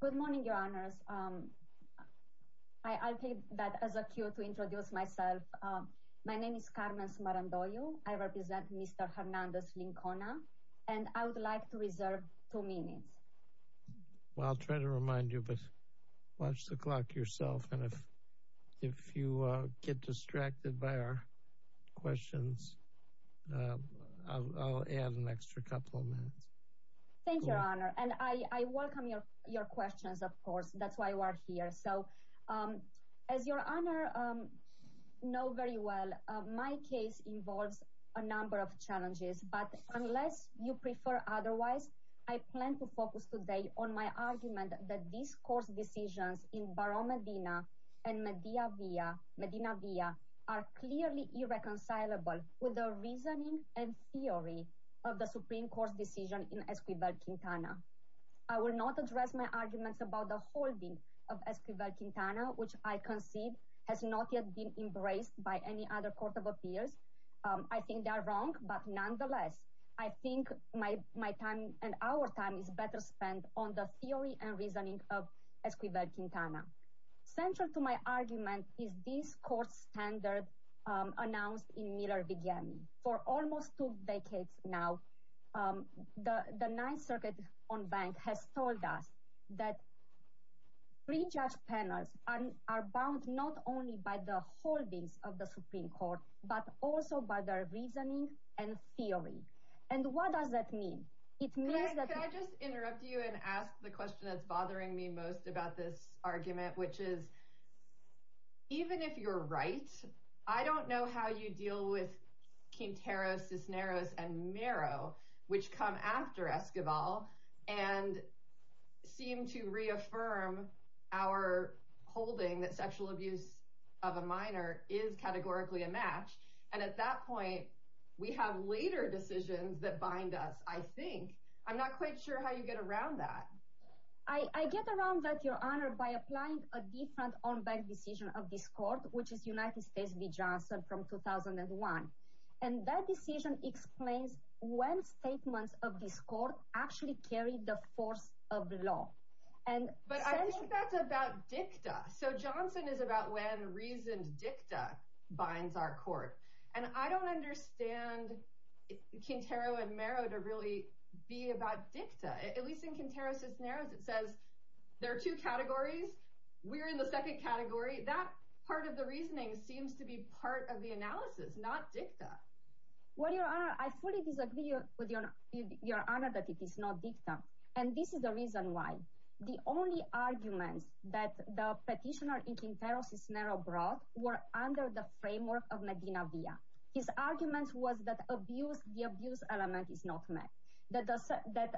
Good morning, your honors. I'll take that as a cue to introduce myself. My name is Carmen Smarandollo. I represent Mr. Hernandez-Lincona, and I would like to reserve two minutes. Well, I'll try to remind you, but watch the clock yourself, and if you get distracted by our questions, I'll add an extra couple of minutes. Thank you, your honor, and I welcome your questions, of course. That's why you are here. As your honor knows very well, my case involves a number of challenges, but unless you prefer otherwise, I plan to focus today on my argument that these court decisions in Barão Medina and Medina Via are clearly irreconcilable with the reasoning and theory of the Supreme Court's decision in Esquivel-Quintana. I will not address my arguments about the holding of Esquivel-Quintana, which I concede has not yet been embraced by any other court of appeals. I think they are wrong, but nonetheless, I think my time and our time is better spent on the theory and reasoning of Esquivel-Quintana. Central to my argument is this court standard announced in Miller-Vigiani. For almost two decades now, the Ninth Circuit on Bank has told us that pre-judge panels are bound not only by the holdings of the Supreme Court, but also by their reasoning and theory. And what does that mean? It means that... Can I just interrupt you and ask the question that's bothering me most about this argument, which is, even if you're right, I don't know how you deal with Quintero, Cisneros, and Mero, which come after Esquivel and seem to reaffirm our holding that sexual abuse of a minor is categorically a match. And at that point, we have later decisions that bind us, I think. I'm not quite sure how you get around that. I get around that, Your Honor, by applying a different on-bank decision of this court, which is United States v. Johnson from 2001. And that decision explains when statements of this court actually carry the force of law. But I think that's about dicta. So Johnson is about when dicta. At least in Quintero-Cisneros, it says there are two categories. We're in the second category. That part of the reasoning seems to be part of the analysis, not dicta. Well, Your Honor, I fully disagree with Your Honor that it is not dicta. And this is the reason why. The only arguments that the petitioner in Quintero-Cisneros brought were under the framework of Medina via. His argument was that the abuse element is not met, that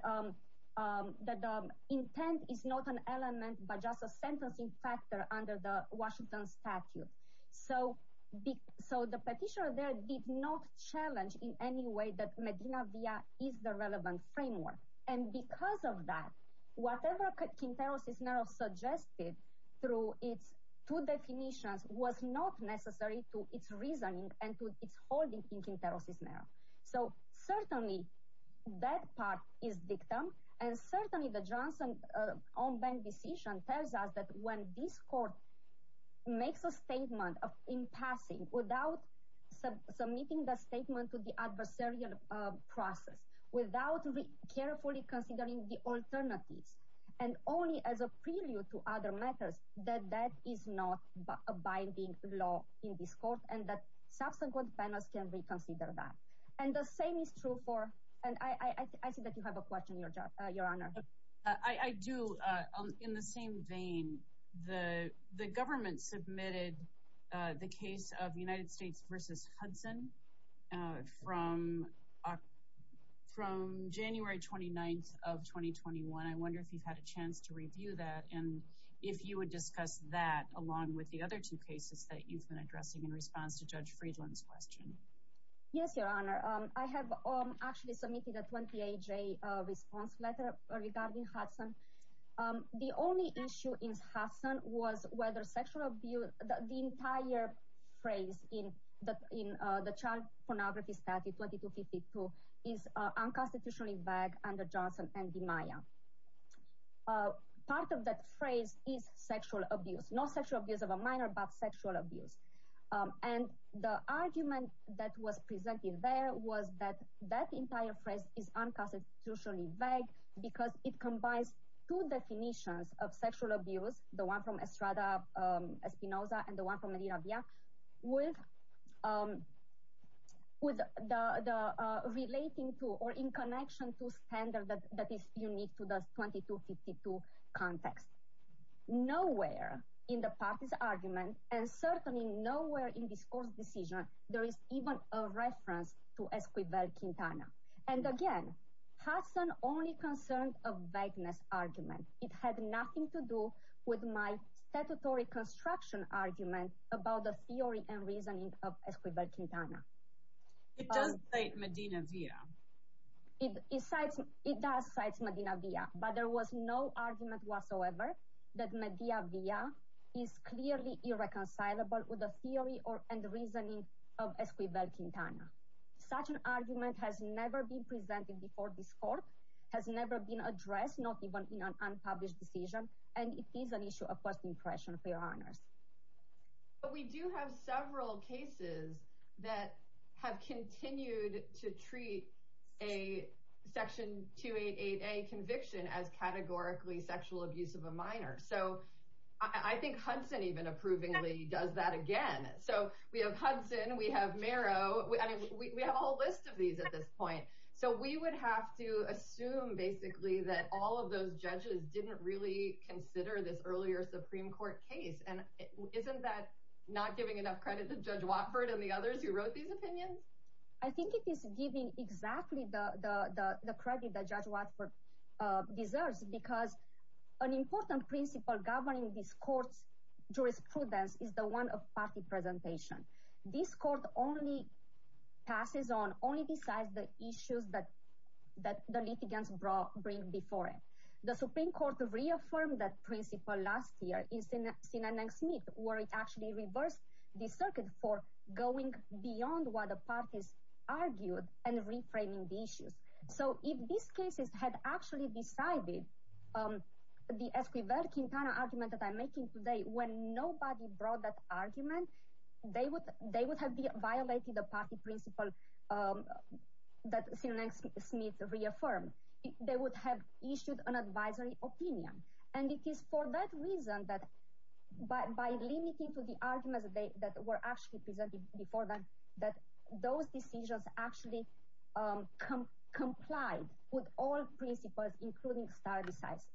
the intent is not an element but just a sentencing factor under the Washington statute. So the petitioner there did not challenge in any way that Medina via is the relevant framework. And because of that, whatever it's holding in Quintero-Cisneros. So certainly that part is dicta. And certainly the Johnson on-bank decision tells us that when this court makes a statement in passing without submitting the statement to the adversarial process, without carefully considering the alternatives, and only as a prelude to other matters, that that is not a binding law in this court and that subsequent panels can reconsider that. And the same is true for, and I see that you have a question, Your Honor. I do. In the same vein, the government submitted the case of United States versus Hudson from January 29th of 2021. I wonder if you've had a chance to review that and if you would discuss that along with the other two cases that you've been addressing in response to Judge Friedland's question. Yes, Your Honor. I have actually submitted a 28-day response letter regarding Hudson. The only issue in Hudson was whether sexual abuse, the entire phrase in the child pornography statute 2252 is unconstitutionally vague under Johnson and DiMaia. Part of that phrase is sexual abuse, not sexual abuse of a minor, but sexual abuse. And the argument that was presented there was that that entire phrase is unconstitutionally vague because it combines two definitions of sexual abuse, the one from Estrada Espinoza and the one from Medina Villa, with the relating to or in connection to standard that is unique to the 2252 context. Nowhere in the party's argument and certainly nowhere in this court's decision there is even a reference to Esquivel-Quintana. And again, Hudson only concerned a vagueness argument. It had nothing to do with my statutory construction argument about the theory and reasoning of Esquivel-Quintana. It does cite Medina Villa. It does cite Medina Villa, but there was no reconcilable with the theory and reasoning of Esquivel-Quintana. Such an argument has never been presented before this court, has never been addressed, not even in an unpublished decision, and it is an issue of first impression, for your honors. But we do have several cases that have continued to treat a Section 288A conviction as categorically sexual abuse of a minor. So I think Hudson even approvingly does that again. So we have Hudson, we have Mero, we have a whole list of these at this point. So we would have to assume basically that all of those judges didn't really consider this earlier Supreme Court case. And isn't that not giving enough credit to Judge Watford and the others who wrote these opinions? I think it is giving exactly the credit that governing this court's jurisprudence is the one of party presentation. This court only passes on, only decides the issues that the litigants bring before it. The Supreme Court reaffirmed that principle last year in Sinanang-Smith, where it actually reversed the circuit for going beyond what the parties argued and reframing the issues. So if these cases had actually decided, the Esquivel-Quintana argument that I'm making today, when nobody brought that argument, they would have violated the party principle that Sinanang-Smith reaffirmed. They would have issued an advisory opinion. And it is for that reason that by limiting to the arguments that were actually presented before them, that those decisions actually complied with all principles, including star decisions.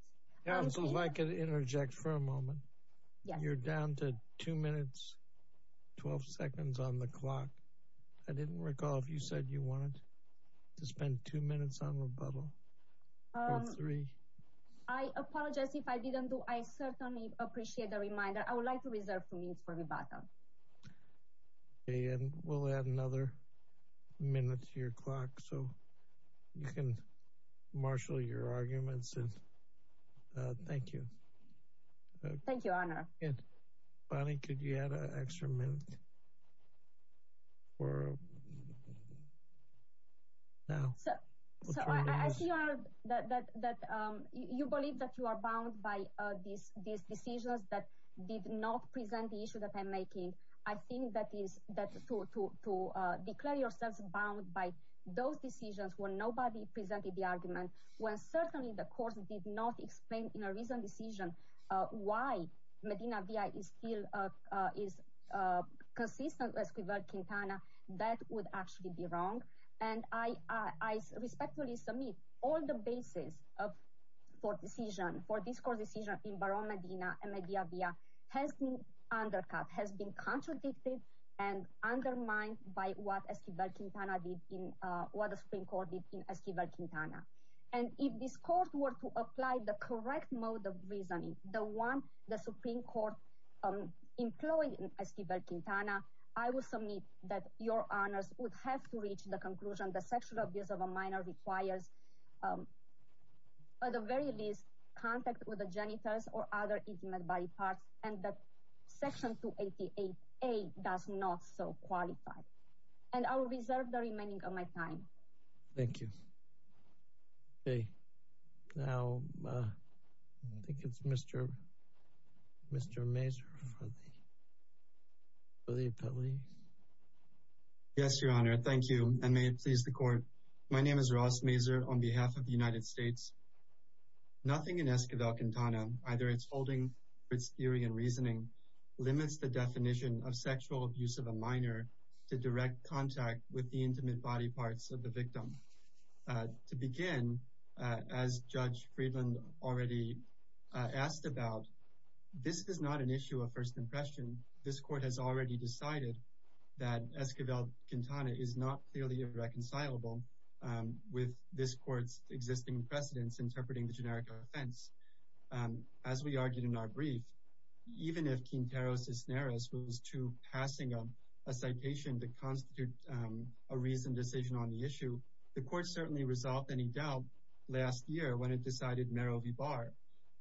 If I could interject for a moment. You're down to two minutes, 12 seconds on the clock. I didn't recall if you said you wanted to spend two minutes on rebuttal. I apologize if I didn't do. I certainly appreciate the reminder. I would like to you can marshal your arguments. Thank you. Thank you, Honor. Bonnie, could you add an extra minute? You believe that you are bound by these decisions that did not present the issue that I'm making. I think that to declare yourself bound by those decisions when nobody presented the argument, when certainly the court did not explain in a recent decision why Medina-Via is still consistent with Esquivel-Quintana, that would actually be wrong. And I respectfully submit all the basis for decision, for this court decision in Barone-Medina and Medina-Via has been undercut, has been contradicted and undermined by what Esquivel-Quintana did in, what the Supreme Court did in Esquivel-Quintana. And if this court were to apply the correct mode of reasoning, the one the Supreme Court employed in Esquivel-Quintana, I will submit that your conclusion, the sexual abuse of a minor requires, at the very least, contact with the genitals or other intimate body parts and that Section 288A does not so qualify. And I will reserve the remaining of my time. Thank you. Okay. Now, I think it's Mr. Mazur for the appellee. Yes, Your Honor. Thank you. And may it please the court. My name is Ross Mazur on behalf of the United States. Nothing in Esquivel-Quintana, either its holding, its theory and reasoning, limits the definition of sexual abuse of a minor to direct contact with the intimate body parts of the victim. To begin, as Judge Friedland already asked about, this is not an issue of that Esquivel-Quintana is not clearly irreconcilable with this court's existing precedence interpreting the generic offense. As we argued in our brief, even if Quintero Cisneros was to passing a citation that constitutes a reasoned decision on the issue, the court certainly resolved any doubt last year when it decided Mero v. Barr.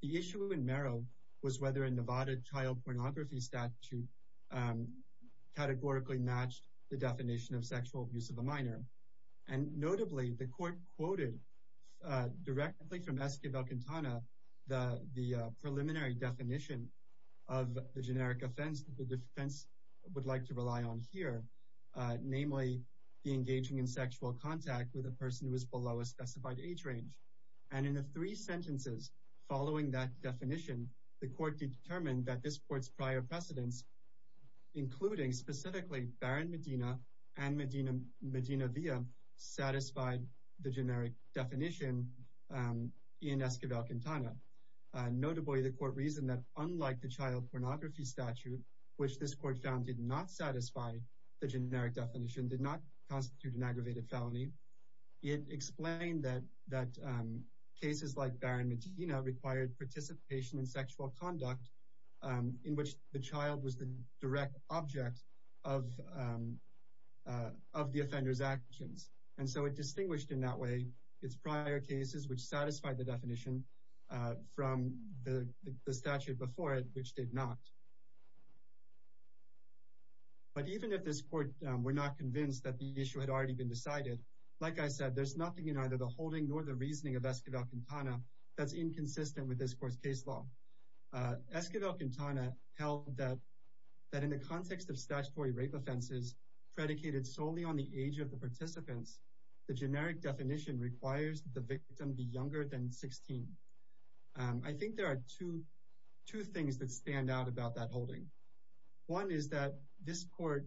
The issue in Mero was whether Nevada child pornography statute categorically matched the definition of sexual abuse of a minor. And notably, the court quoted directly from Esquivel-Quintana the preliminary definition of the generic offense that the defense would like to rely on here, namely the engaging in sexual contact with a person who is below a specified age range. And in the three sentences following that definition, the court determined that this court's prior precedence, including specifically Barron Medina and Medina via, satisfied the generic definition in Esquivel-Quintana. Notably, the court reasoned that unlike the child pornography statute, which this court found did not satisfy the generic definition, did not constitute an required participation in sexual conduct in which the child was the direct object of the offender's actions. And so it distinguished in that way its prior cases, which satisfied the definition from the statute before it, which did not. But even if this court were not convinced that the issue had already been decided, like I said, there's nothing in either the holding nor the reasoning of Esquivel-Quintana that's inconsistent with this court's case law. Esquivel-Quintana held that in the context of statutory rape offenses predicated solely on the age of the participants, the generic definition requires the victim be younger than 16. I think there are two things that stand out about that holding. One is that this court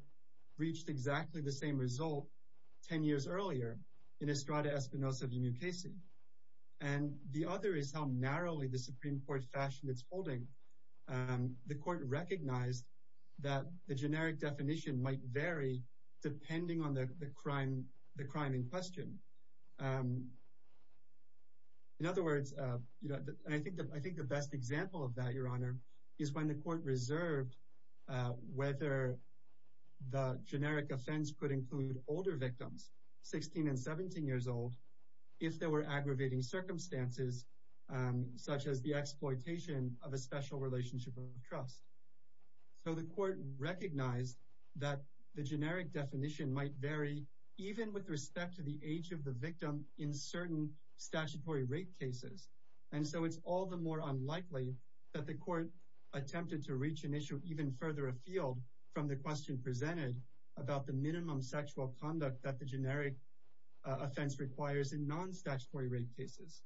reached exactly the same result 10 years earlier in Estrada the other is how narrowly the Supreme Court fashioned its holding. The court recognized that the generic definition might vary depending on the crime in question. In other words, and I think the best example of that, Your Honor, is when the court reserved whether the generic offense could include older victims, 16 and 17 years old, if there were such as the exploitation of a special relationship of trust. So the court recognized that the generic definition might vary even with respect to the age of the victim in certain statutory rape cases. And so it's all the more unlikely that the court attempted to reach an issue even further afield from the question presented about the minimum sexual conduct that the generic offense requires in non-statutory rape cases.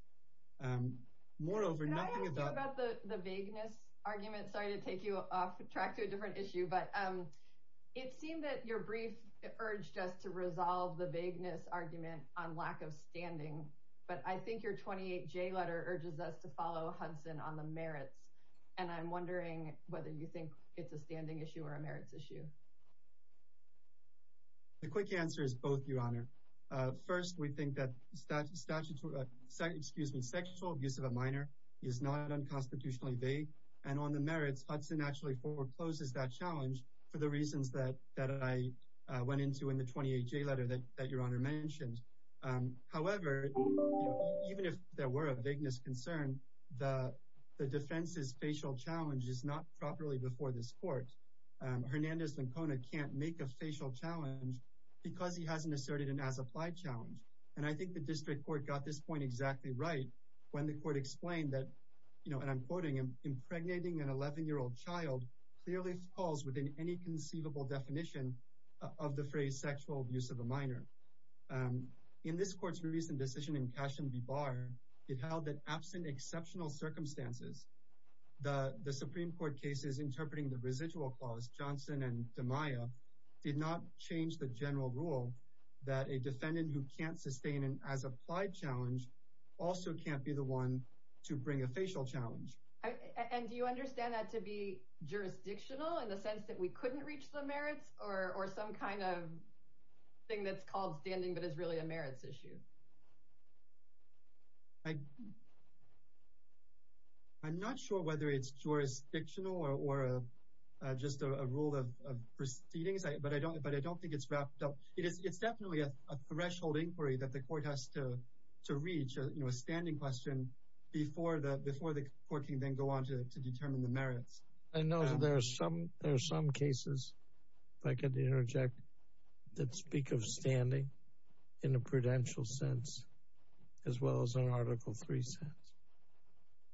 Moreover, nothing about the vagueness argument, sorry to take you off track to a different issue, but it seemed that your brief urged us to resolve the vagueness argument on lack of standing, but I think your 28J letter urges us to follow Hudson on the merits, and I'm wondering whether you think it's a standing issue or a merits issue. The quick answer is both, Your Honor. First, we think that sexual abuse of a minor is not unconstitutionally vague, and on the merits, Hudson actually forecloses that challenge for the reasons that I went into in the 28J letter that Your Honor mentioned. However, even if there were a vagueness concern, the defense's facial challenge is not properly presented before this court. Hernandez-Lincona can't make a facial challenge because he hasn't asserted an as-applied challenge, and I think the district court got this point exactly right when the court explained that, and I'm quoting him, impregnating an 11-year-old child clearly falls within any conceivable definition of the phrase sexual abuse of a minor. In this court's recent decision in Cashion v. Barr, it held that absent exceptional circumstances, the Supreme Court cases interpreting the residual clause, Johnson and DeMaio, did not change the general rule that a defendant who can't sustain an as-applied challenge also can't be the one to bring a facial challenge. And do you understand that to be jurisdictional in the sense that we couldn't reach the merits or some kind of thing that's called standing but is really a merits issue? I'm not sure whether it's jurisdictional or just a rule of proceedings, but I don't think it's wrapped up. It's definitely a threshold inquiry that the court has to reach, a standing question, before the court can then go on to determine the merits. I know that there are some cases, if I could interject, that speak of standing in a prudential sense as well as an Article III sense.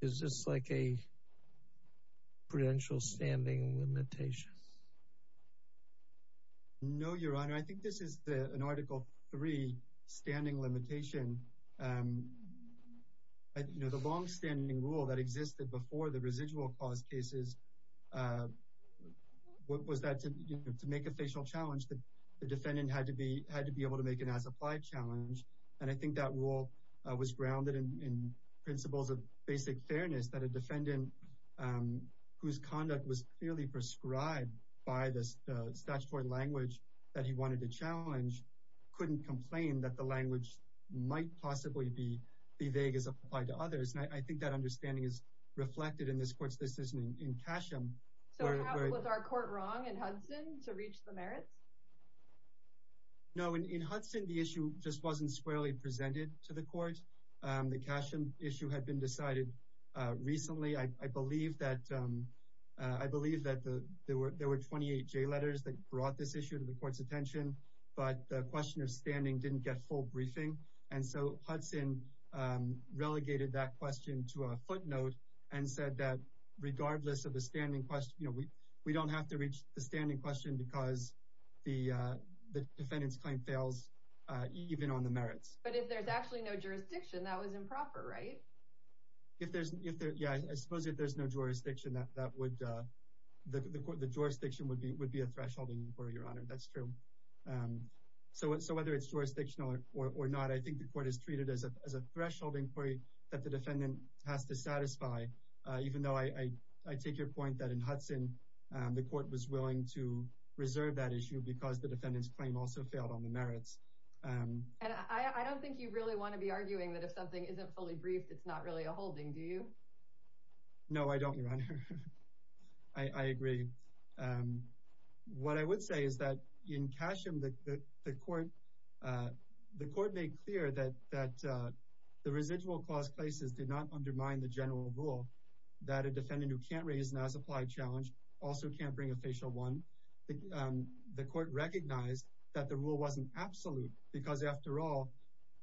Is this like a prudential standing limitation? No, Your Honor. I think this is an Article III standing limitation. And the longstanding rule that existed before the residual clause cases was that to make a facial challenge, the defendant had to be able to make an as-applied challenge. And I think that rule was grounded in principles of basic fairness that a defendant whose conduct was clearly prescribed by the statutory language that he wanted to challenge couldn't complain that the language might possibly be as vague as applied to others. I think that understanding is reflected in this court's decision in Casham. Was our court wrong in Hudson to reach the merits? No. In Hudson, the issue just wasn't squarely presented to the court. The Casham issue had been decided recently. I believe that there were 28 J letters that brought this issue to attention. But the question of standing didn't get full briefing. And so Hudson relegated that question to a footnote and said that regardless of the standing question, we don't have to reach the standing question because the defendant's claim fails even on the merits. But if there's actually no jurisdiction, that was improper, right? Yeah. I suppose if there's no jurisdiction, the jurisdiction would be a thresholding inquiry, that's true. So whether it's jurisdictional or not, I think the court has treated it as a thresholding inquiry that the defendant has to satisfy, even though I take your point that in Hudson, the court was willing to reserve that issue because the defendant's claim also failed on the merits. I don't think you really want to be arguing that if something isn't fully briefed, it's not really a holding, do you? No, I don't, Your Honor. I agree. And what I would say is that in Casham, the court made clear that the residual clause places did not undermine the general rule that a defendant who can't raise an as-applied challenge also can't bring a facial one. The court recognized that the rule wasn't absolute because after all,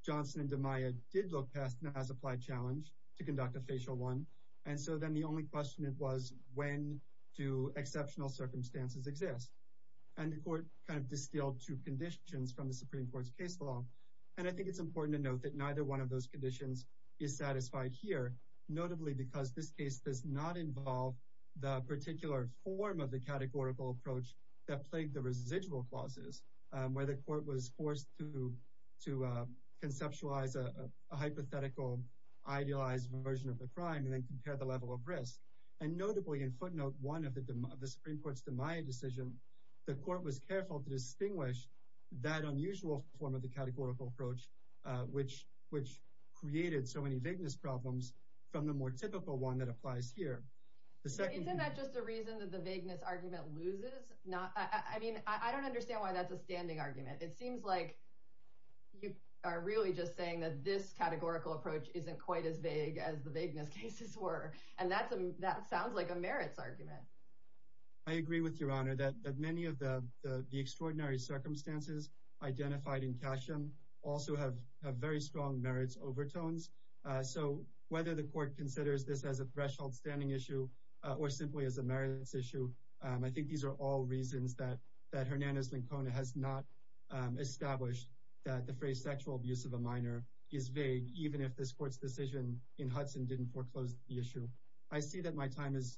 Johnson and DeMaio did look past an as-applied challenge to conduct a facial one. And so then the only question was, when do exceptional circumstances exist? And the court kind of distilled two conditions from the Supreme Court's case law. And I think it's important to note that neither one of those conditions is satisfied here, notably because this case does not involve the particular form of the categorical approach that plagued the residual clauses, where the court was forced to conceptualize a hypothetical, idealized version of the crime and then compare the level of risk. And notably, in footnote one of the Supreme Court's DeMaio decision, the court was careful to distinguish that unusual form of the categorical approach, which created so many vagueness problems from the more typical one that applies here. Isn't that just a reason that the vagueness argument loses? I mean, I don't understand why that's a standing argument. It seems like you are really just saying that this categorical approach isn't quite as vague as the vagueness cases were. And that sounds like a merits argument. I agree with your honor that many of the extraordinary circumstances identified in Casham also have very strong merits overtones. So whether the court considers this as a threshold standing issue or simply as a merits issue, I think these are all reasons that Hernandez-Lincona has not established that the phrase sexual abuse of a minor is vague, even if this court's decision in Hudson didn't foreclose the issue. I see that my time is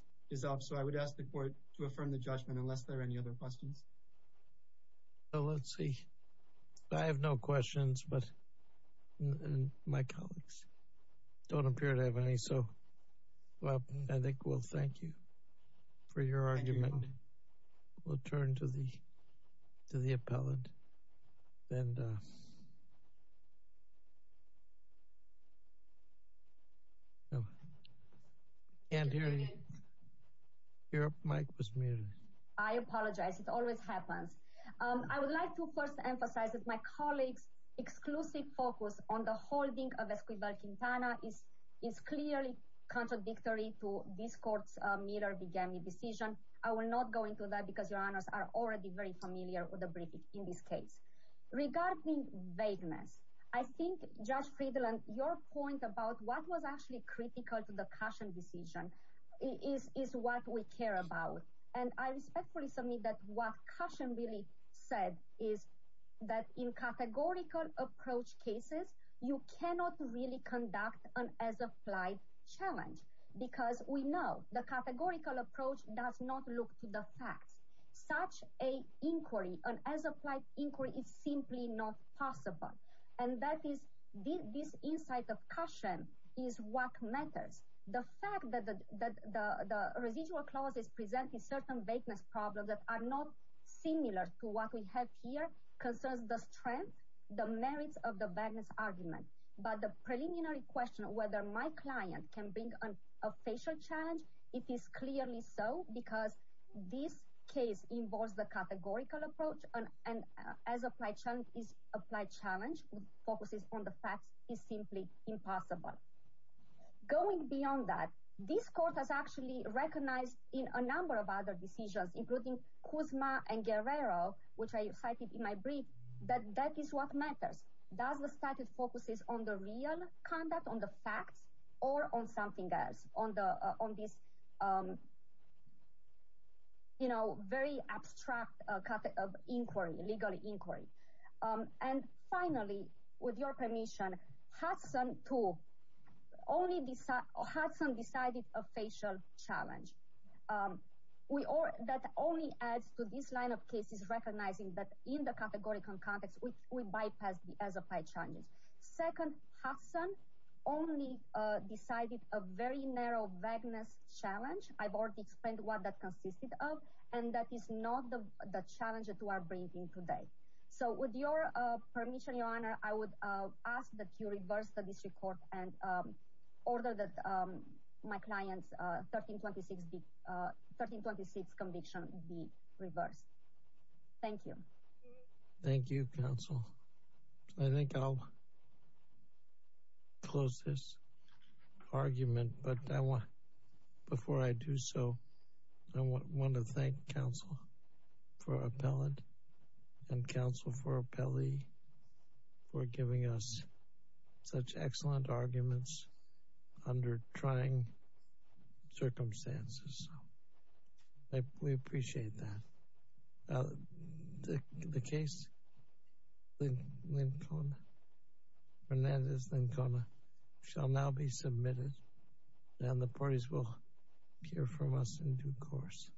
up. So I would ask the court to affirm the judgment unless there are any other questions. Let's see. I have no questions, but my colleagues don't appear to have any. So I apologize. It always happens. I would like to first emphasize that my colleagues' exclusive focus on the holding of Esquivel-Quintana is clearly contradictory to this court's Miller-Bugany decision. I will not go into that because your honors are already very in this case. Regarding vagueness, I think, Judge Friedland, your point about what was actually critical to the Casham decision is what we care about. And I respectfully submit that what Casham really said is that in categorical approach cases, you cannot really conduct an as-applied challenge because we know the categorical approach does not look to the facts. Such an inquiry, an as-applied inquiry, is simply not possible. And this insight of Casham is what matters. The fact that the residual clauses present a certain vagueness problem that are not similar to what we have here concerns the strength, the merits of the vagueness argument. But the preliminary question of whether my client can bring a facial challenge, it is clearly so because this case involves the categorical approach and an as-applied challenge focuses on the facts, is simply impossible. Going beyond that, this court has actually recognized in a number of other decisions, including Kuzma and Guerrero, which I cited in my brief, that that is what matters. Does the statute focus on the real conduct, on the facts, or on something else, on this, you know, very abstract category of inquiry, legal inquiry? And finally, with your permission, Hudson too, Hudson decided a facial challenge. That only adds to this line of cases recognizing that in the categorical context, we bypass the as-applied challenges. Second, Hudson only decided a very narrow vagueness challenge. I've already explained what that consisted of, and that is not the challenge that we are bringing today. So, with your permission, Your Honor, I would ask that you reverse the district court and order that my client's 1326 conviction be reversed. Thank you. Thank you, Counsel. I think I'll close this argument, but before I do so, I want to thank Counsel for Appellant and Counsel for Appellee for giving us such excellent arguments under trying circumstances. We appreciate that. The case, Fernandez-Lincona, shall now be submitted, and the parties will hear from us in due course.